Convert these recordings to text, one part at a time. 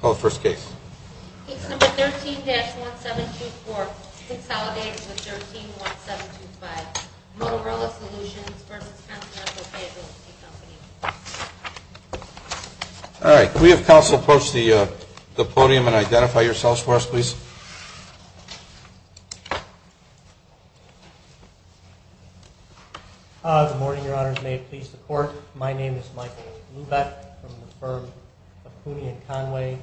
Case No. 13-1724, consolidated with 13-1725, Motorola Solutions v. Continental Payability Company. All right. Could we have counsel approach the podium and identify yourselves for us, please? Good morning, Your Honors. May it please the Court, my name is Michael Lubeck from the firm of Cooney & Conway,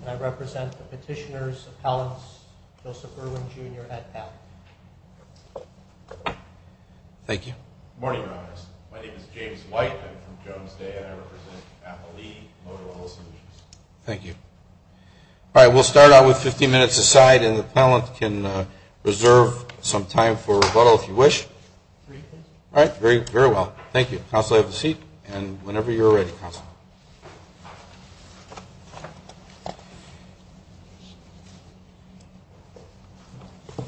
and I represent the petitioners, appellants, Joseph Erwin, Jr. at PAP. Thank you. Good morning, Your Honors. My name is James White. I'm from Jones Day, and I represent Appalee, Motorola Solutions. Thank you. All right. We'll start out with 15 minutes aside, and the appellant can reserve some time for rebuttal if you wish. All right. Very well. Thank you. Counsel, have a seat, and whenever you're ready, counsel. Good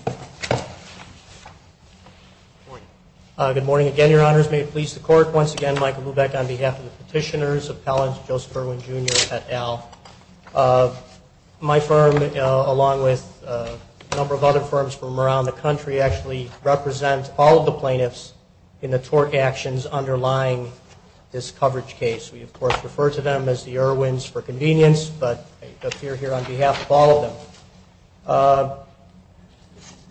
morning. Good morning again, Your Honors. May it please the Court, once again, Michael Lubeck on behalf of the petitioners, appellants, Joseph Erwin, Jr. at Al. My firm, along with a number of other firms from around the country, actually represent all of the plaintiffs in the tort actions underlying this coverage case. We, of course, refer to them as the Erwins for convenience, but I appear here on behalf of all of them.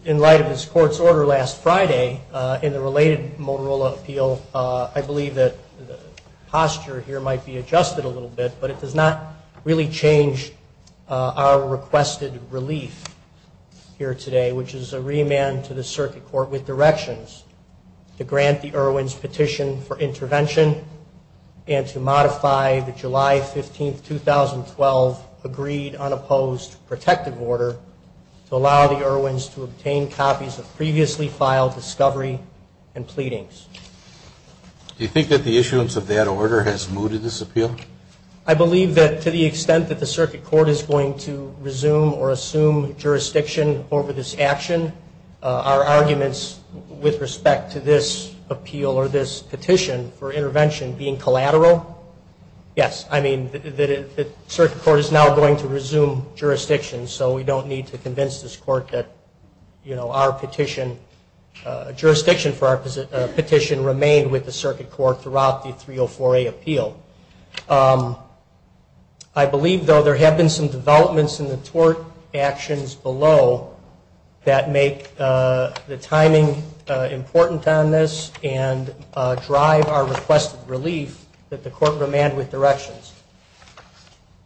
In light of this Court's order last Friday in the related Motorola appeal, I believe that the posture here might be adjusted a little bit, but it does not really change our requested relief here today, which is a remand to the Circuit Court with directions to grant the Erwins petition for intervention and to modify the July 15, 2012, agreed unopposed protective order to allow the Erwins to obtain copies of previously filed discovery and pleadings. Do you think that the issuance of that order has mooted this appeal? I believe that to the extent that the Circuit Court is going to resume or assume jurisdiction over this action, our arguments with respect to this appeal or this petition for intervention being collateral, yes. I mean, the Circuit Court is now going to resume jurisdiction, so we don't need to convince this Court that, you know, our jurisdiction for our petition remained with the Circuit Court throughout the 304A appeal. I believe, though, there have been some developments in the tort actions below that make the timing important on this and drive our requested relief that the Court remand with directions.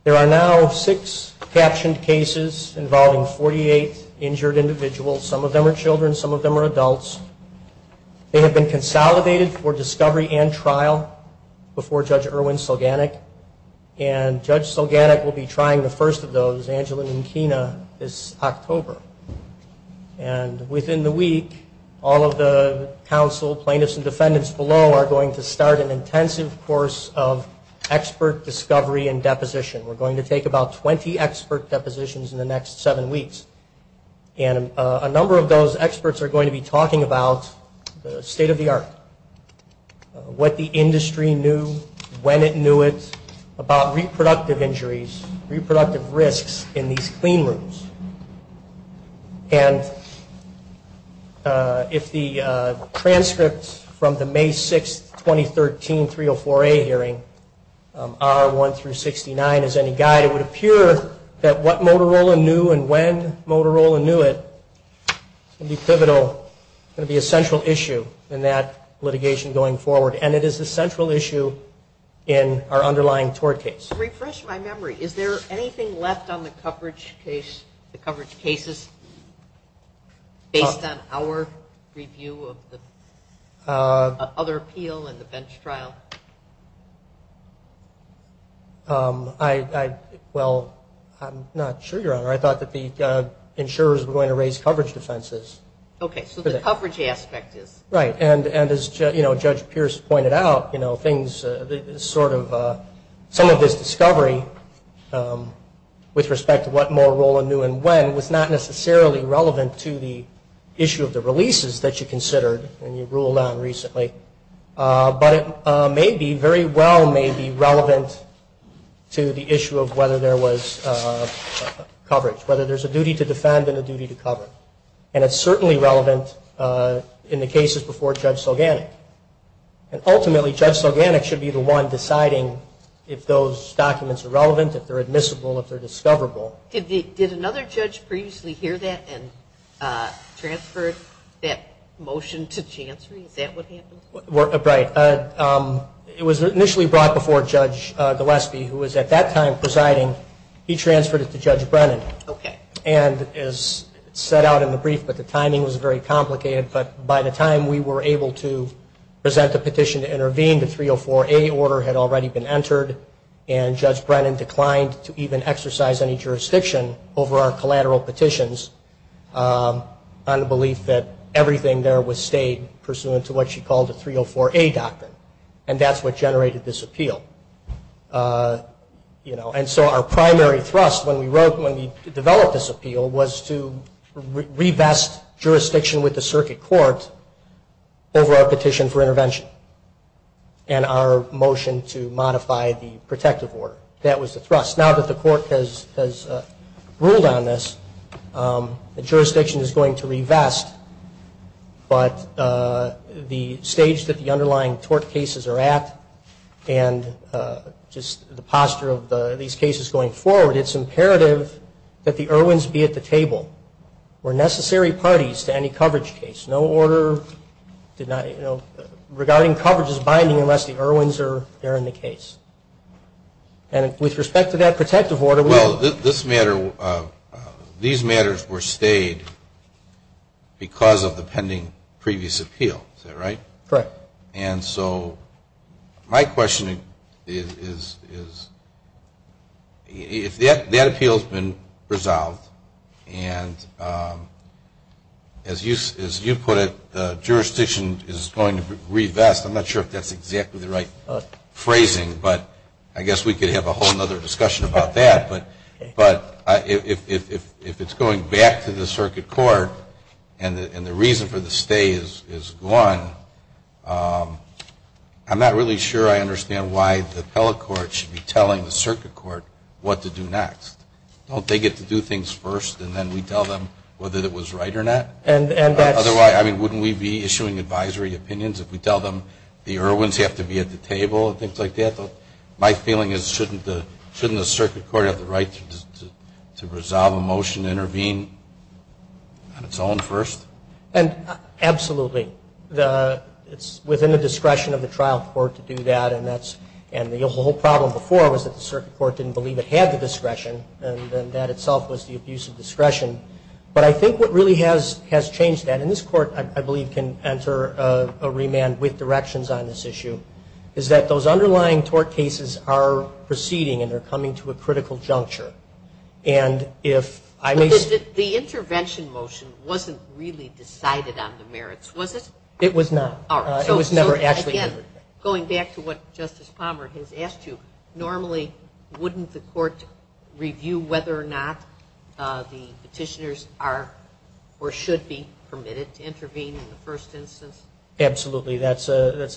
There are now six captioned cases involving 48 injured individuals. Some of them are children. Some of them are adults. They have been consolidated for discovery and trial before Judge Erwin Sulganik. And Judge Sulganik will be trying the first of those, Angela Minkina, this October. And within the week, all of the counsel, plaintiffs, and defendants below are going to start an intensive course of expert discovery and deposition. We're going to take about 20 expert depositions in the next seven weeks. And a number of those experts are going to be talking about the state of the art, what the industry knew, when it knew it, about reproductive injuries, reproductive risks in these clean rooms. And if the transcript from the May 6, 2013, 304A hearing, R1 through 69, is any guide, it would appear that what Motorola knew and when, when Motorola knew it would be pivotal, going to be a central issue in that litigation going forward. And it is a central issue in our underlying tort case. Refresh my memory. Is there anything left on the coverage case, the coverage cases, based on our review of the other appeal and the bench trial? I, well, I'm not sure, Your Honor. I thought that the insurers were going to raise coverage defenses. Okay. So the coverage aspect is. Right. And as, you know, Judge Pierce pointed out, you know, things sort of, some of this discovery with respect to what Motorola knew and when, was not necessarily relevant to the issue of the releases that you considered and you ruled on recently. But it may be, very well may be relevant to the issue of whether there was coverage, whether there's a duty to defend and a duty to cover. And it's certainly relevant in the cases before Judge Sulganik. And ultimately, Judge Sulganik should be the one deciding if those documents are relevant, if they're admissible, if they're discoverable. Did another judge previously hear that and transferred that motion to Chancery? Is that what happened? Right. It was initially brought before Judge Gillespie, who was at that time presiding. He transferred it to Judge Brennan. Okay. And as set out in the brief, but the timing was very complicated. But by the time we were able to present the petition to intervene, the 304A order had already been entered. And Judge Brennan declined to even exercise any jurisdiction over our collateral petitions on the belief that everything there was stated pursuant to what she called the 304A doctrine. And that's what generated this appeal. And so our primary thrust when we developed this appeal was to revest jurisdiction with the circuit court over our petition for intervention. And our motion to modify the protective order. That was the thrust. Now that the court has ruled on this, the jurisdiction is going to revest. But the stage that the underlying tort cases are at and just the posture of these cases going forward, it's imperative that the Irwins be at the table. We're necessary parties to any coverage case. No order regarding coverage is binding unless the Irwins are there in the case. And with respect to that protective order... Well, these matters were stayed because of the pending previous appeal. Is that right? Correct. And so my question is, if that appeal has been resolved and as you put it, the jurisdiction is going to revest, I'm not sure if that's exactly the right phrasing, but I guess we could have a whole other discussion about that. But if it's going back to the circuit court and the reason for the stay is gone, I'm not really sure I understand why the appellate court should be telling the circuit court what to do next. Don't they get to do things first and then we tell them whether it was right or not? Otherwise, wouldn't we be issuing advisory opinions if we tell them the Irwins have to be at the table and things like that? My feeling is shouldn't the circuit court have the right to resolve a motion to intervene on its own first? Absolutely. It's within the discretion of the trial court to do that. And the whole problem before was that the circuit court didn't believe it had the discretion and that itself was the abuse of discretion. But I think what really has changed that, and this court I believe can enter a remand with directions on this issue, is that those underlying tort cases are proceeding and are coming to a critical juncture. The intervention motion wasn't really decided on the merits, was it? It was not. It was never actually. Going back to what Justice Palmer has asked you, normally wouldn't the court review whether or not the petitioners are or should be permitted to intervene in the first instance? Absolutely. That's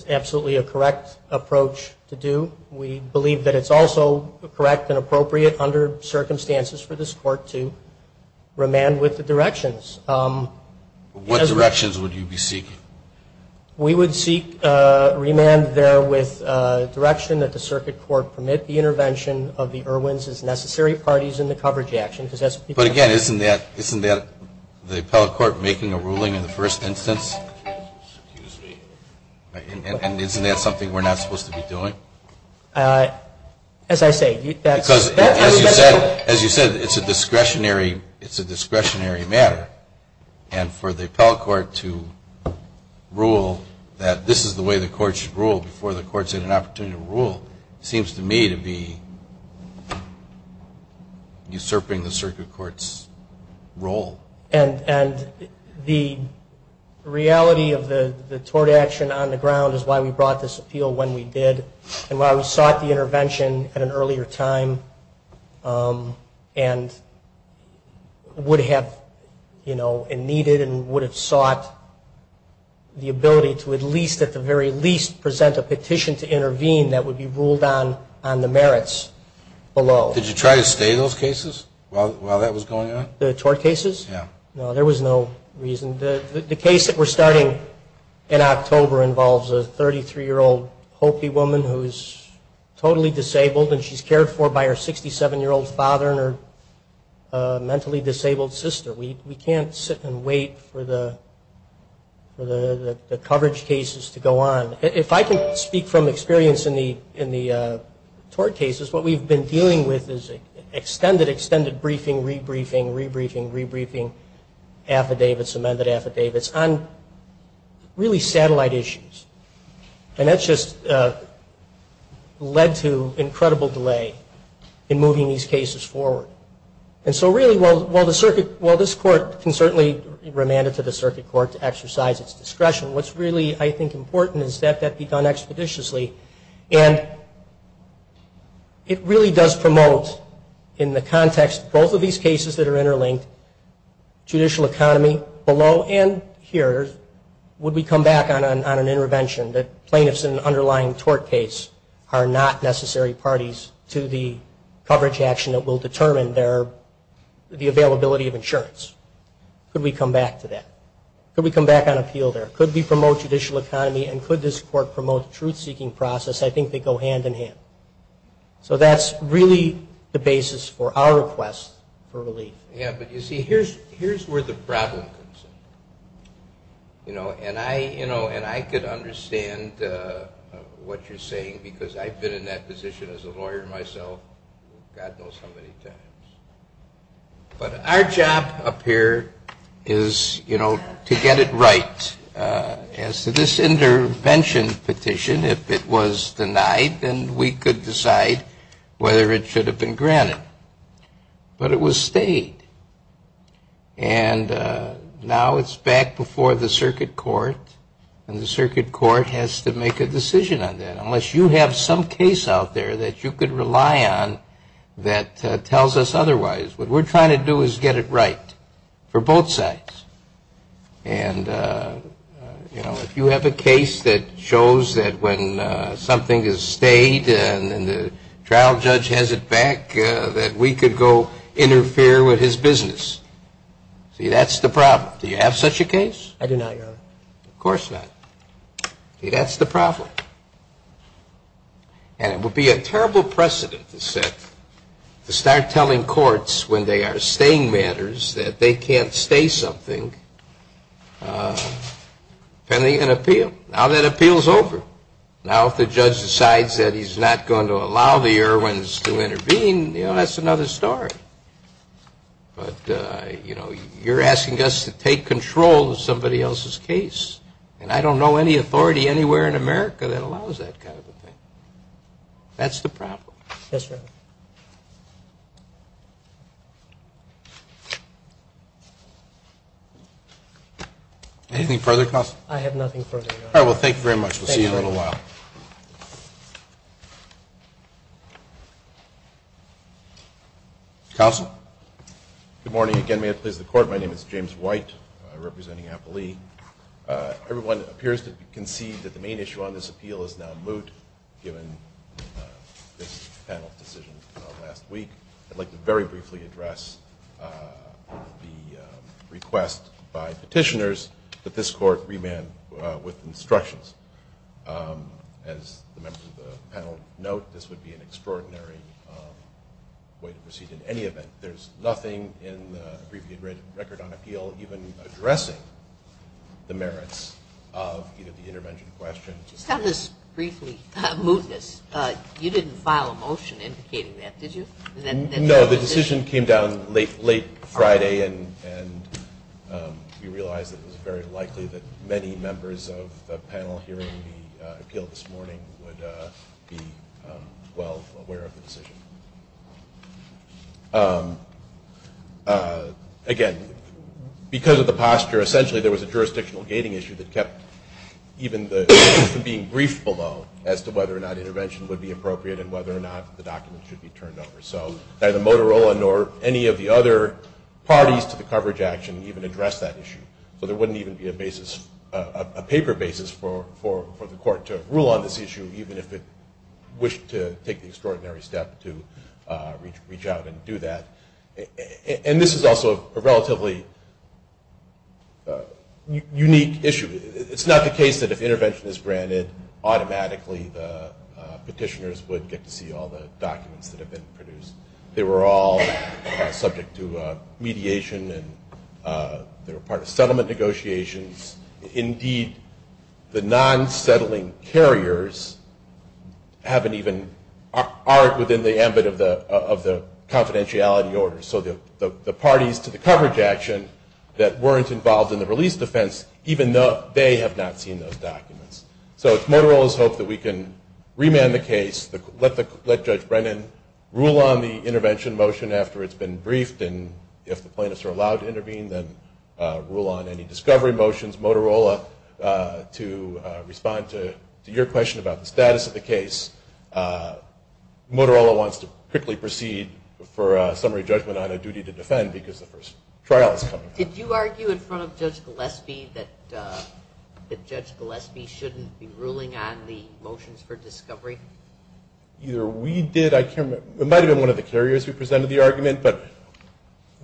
absolutely a correct approach to do. We believe that it's also correct and appropriate under circumstances for this court to remand with the directions. What directions would you be seeking? We would seek remand there with direction that the circuit court permit the intervention of the Irwin's as necessary parties in the coverage action. But again, isn't that the appellate court making a ruling in the first instance? And isn't that something we're not supposed to be doing? As you said, it's a discretionary matter. And for the appellate court to rule that this is the way the court should rule before the court's had an opportunity to rule seems to me to be usurping the circuit court's role. And the reality of the tort action on the ground is why we brought this appeal when we did. And why we sought the intervention at an earlier time and would have needed and would have sought the ability to at least at the very least present a petition to intervene that would be ruled on the merits below. Did you try to stay those cases while that was going on? No, there was no reason. The case that we're starting in October involves a 33-year-old Hopi woman who is totally disabled and she's cared for by her 67-year-old father and her mentally disabled sister. We can't sit and wait for the coverage cases to go on. If I can speak from experience in the tort cases, what we've been dealing with is extended, extended briefing, re-briefing, re-briefing. Affidavits, amended affidavits on really satellite issues. And that's just led to incredible delay in moving these cases forward. And so really while the circuit, while this court can certainly remand it to the circuit court to exercise its discretion, what's really I think important is that that be done expeditiously. And it really does promote in the context both of these cases that are interlinked. Judicial economy below and here. Would we come back on an intervention that plaintiffs in an underlying tort case are not necessary parties to the coverage action that will determine their, the availability of insurance? Could we come back to that? Could we come back on appeal there? Could we promote judicial economy and could this court promote the truth-seeking process? I think they go hand in hand. So that's really the basis for our request for relief. Yeah, but you see, here's where the problem comes in. And I could understand what you're saying because I've been in that position as a lawyer myself God knows how many times. But our job up here is to get it right. As to this intervention petition, if it was denied, then we could decide whether it should have been granted. But it was stayed. And now it's back before the circuit court and the circuit court has to make a decision on that. Unless you have some case out there that you could rely on that tells us otherwise. What we're trying to do is get it right for both sides. And, you know, if you have a case that shows that when something is stayed and the trial judge has it back, that we could go interfere with his business. See, that's the problem. Do you have such a case? I do not, Your Honor. Of course not. See, that's the problem. And it would be a terrible precedent to start telling courts when they are staying matters that they can't stay something pending an appeal. Now that appeal is over. Now if the judge decides that he's not going to allow the Irwins to intervene, you know, that's another story. But, you know, you're asking us to take control of somebody else's case. And I don't know any authority anywhere in America that allows that kind of a thing. That's the problem. Anything further, counsel? I have nothing further, Your Honor. All right. Well, thank you very much. We'll see you in a little while. Counsel? Good morning. Again, may it please the Court, my name is James White, representing Applee. And with instructions, as the members of the panel note, this would be an extraordinary way to proceed in any event. There's nothing in the abbreviated record on appeal even addressing the merits of either the intervention question. Just on this briefly, a mootness, you didn't file a motion indicating that, did you? No, the decision came down late Friday and we realized that it was very likely that many members of the panel hearing the appeal this morning would be well aware of the decision. Again, because of the posture, essentially there was a jurisdictional gating issue that kept even the being briefed below as to whether or not intervention would be appropriate and whether or not the document should be turned over. So neither Motorola nor any of the other parties to the coverage action even addressed that issue. So there wouldn't even be a basis, a paper basis for the Court to rule on this issue even if it wished to take the extraordinary step to reach out and do that. And this is also a relatively unique issue. It's not the case that if intervention is granted, automatically the petitioners would get to see all the documents that have been produced. They were all subject to mediation and they were part of settlement negotiations. Indeed, the non-settling carriers haven't even, aren't within the ambit of the confidentiality order. So the parties to the coverage action that weren't involved in the release defense, even though they have not seen those documents. So it's Motorola's hope that we can remand the case, let Judge Brennan rule on the intervention motion after it's been briefed and if the plaintiffs are allowed to intervene, then rule on any discovery motions. Motorola to respond to your question about the status of the case. Motorola wants to quickly proceed for a summary judgment on a duty to defend because the first trial is coming up. Did you argue in front of Judge Gillespie that Judge Gillespie shouldn't be ruling on the motions for discovery? Either we did. It might have been one of the carriers who presented the argument. But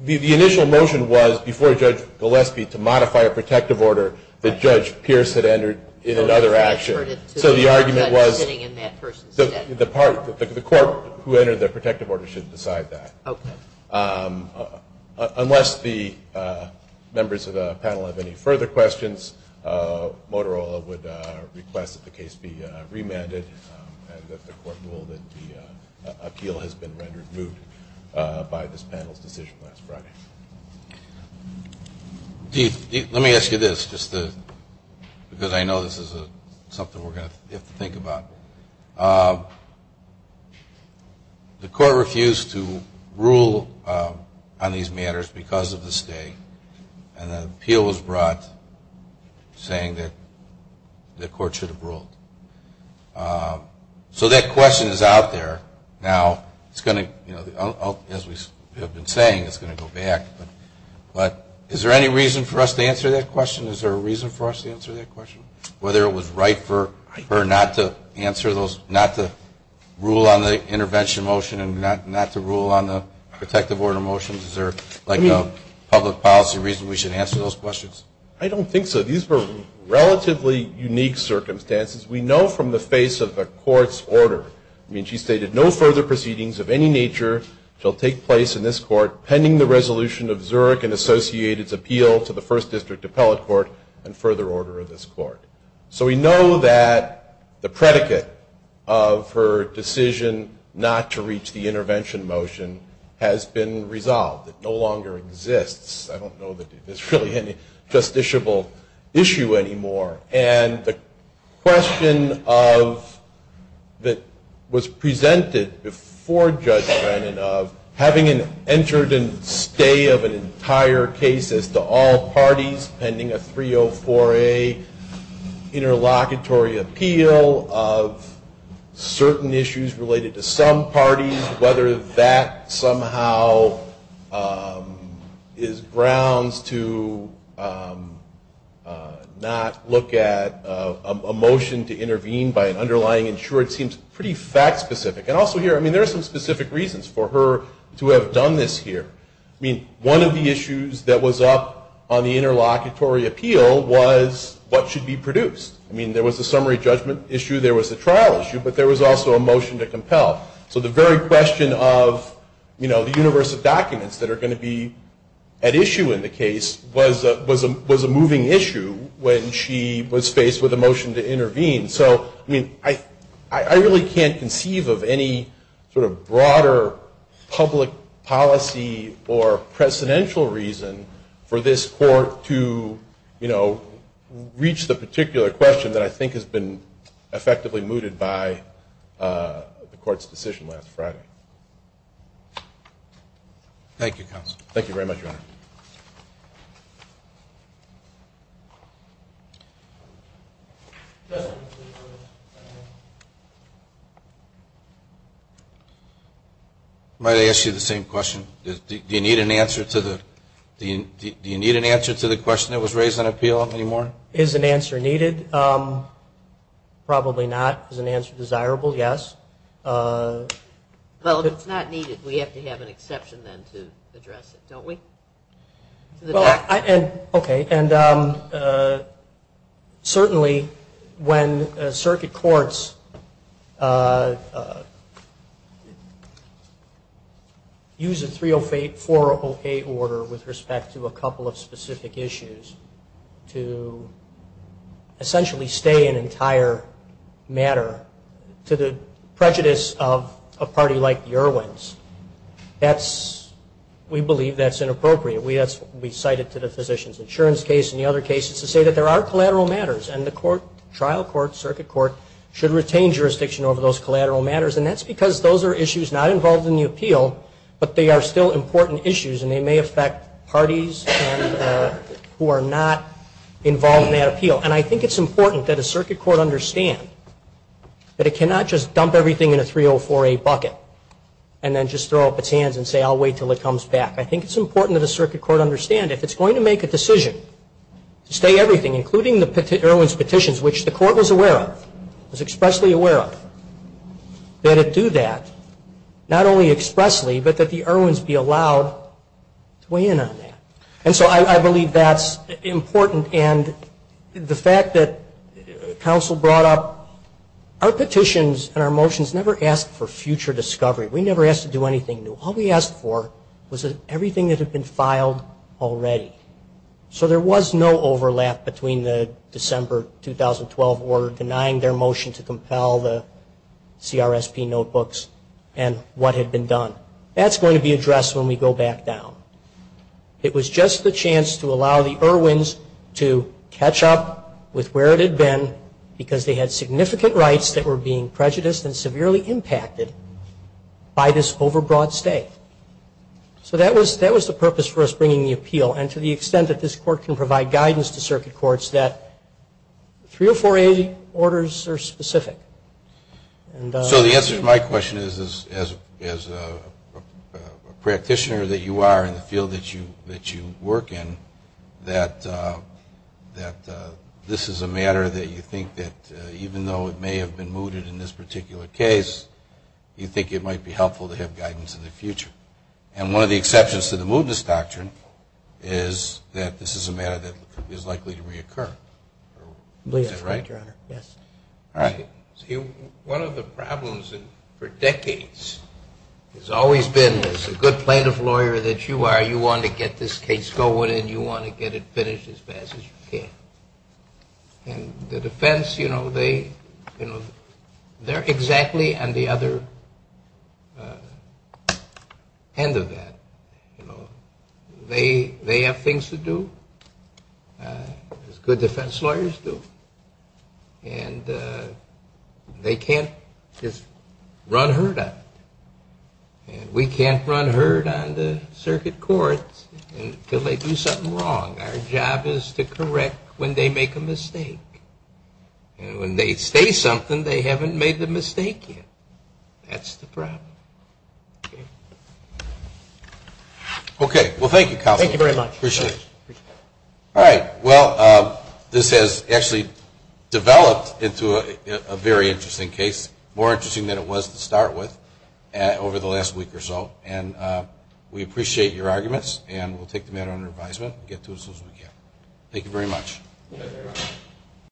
the initial motion was before Judge Gillespie to modify a protective order that Judge Pierce had entered in another action. So the argument was the court who entered the protective order should decide that. Unless the members of the panel have any further questions, Motorola would request that the case be remanded and that the court rule that the appeal has been rendered moot by this panel's decision last Friday. Let me ask you this just because I know this is something we're going to have to think about. The court refused to rule on these matters because of the state and an appeal was brought saying that the court should have ruled. So that question is out there. Now, as we have been saying, it's going to go back. But is there any reason for us to answer that question? Is there a reason for us to answer that question, whether it was right for her not to rule on the intervention motion and not to rule on the protective order motions? Is there a public policy reason we should answer those questions? I don't think so. These were relatively unique circumstances. We know from the face of the court's order, I mean, she stated no further proceedings of any nature shall take place in this court pending the resolution of Zurich and associated's appeal to the First District Appellate Court and further order of this court. So we know that the predicate of her decision not to reach the intervention motion has been resolved. It no longer exists. I don't know that there's really any justiciable issue anymore. And the question that was presented before Judge Brennan of having an entered and stay of an entire case as to all parties pending a 304A interlocutory appeal of certain issues related to some parties, whether that somehow is grounds to not look at the case at all. But to look at a motion to intervene by an underlying insured seems pretty fact specific. And also here, I mean, there are some specific reasons for her to have done this here. I mean, one of the issues that was up on the interlocutory appeal was what should be produced. I mean, there was a summary judgment issue, there was a trial issue, but there was also a motion to compel. So the very question of, you know, the universe of documents that are going to be at issue in the case was a moving issue when she was faced with a motion to intervene. So, I mean, I really can't conceive of any sort of broader public policy or precedential reason for this court to, you know, reach the particular question that I think has been effectively mooted by the court's decision last Friday. Thank you, Counsel. I might ask you the same question. Is an answer needed? Probably not. Is an answer desirable? Yes. Well, if it's not needed, we have to have an exception then to address it, don't we? Okay. And certainly when circuit courts use a 308-408 order with respect to a couple of specific issues, to essentially stay an entire matter to the prejudice of a party like the Irwins, we believe that's inappropriate. We cite it to the physician's insurance case and the other cases to say that there are collateral matters and the trial court, circuit court, should retain jurisdiction over those collateral matters, and that's because those are issues not involved in the appeal, but they are still important issues and they may affect parties who are not involved in that appeal. And I think it's important that a circuit court understand that it cannot just dump everything in a 304-A bucket and then just throw up its hands and say, I'll wait until it comes back. I think it's important that a circuit court understand if it's going to make a decision to stay everything, including the Irwins petitions, which the court was aware of, was expressly aware of, that it do that, not only expressly, but that the Irwins be allowed to weigh in on that. And so I believe that's important, and the fact that counsel brought up our petitions and our motions never asked for future discovery. We never asked to do anything new. All we asked for was everything that had been filed already. So there was no overlap between the December 2012 order denying their motion to compel the CRSP notebooks and what had been done. That's going to be addressed when we go back down. It was just the chance to allow the Irwins to catch up with where it had been because they had significant rights that were being prejudiced and severely impacted by this overbroad stay. So that was the purpose for us bringing the appeal, and to the extent that this court can provide guidance to circuit courts, that three or four orders are specific. So the answer to my question is, as a practitioner that you are in the field that you work in, that this is a matter that you think that, even though it may have been mooted in this particular case, you think it might be helpful to have guidance in the future. And one of the exceptions to the mootness doctrine is that this is a matter that is likely to reoccur. Yes. One of the problems for decades has always been, as a good plaintiff lawyer that you are, you want to get this case going and you want to get it finished as fast as you can. And the defense, they're exactly on the other end of that. They have things to do, as good defense lawyers do. And they can't just run herd on it. And we can't run herd on the circuit courts until they do something wrong. Our job is to correct when they make a mistake. And when they say something, they haven't made the mistake yet. That's the problem. Okay. Well, thank you, counsel. Thank you very much. Appreciate it.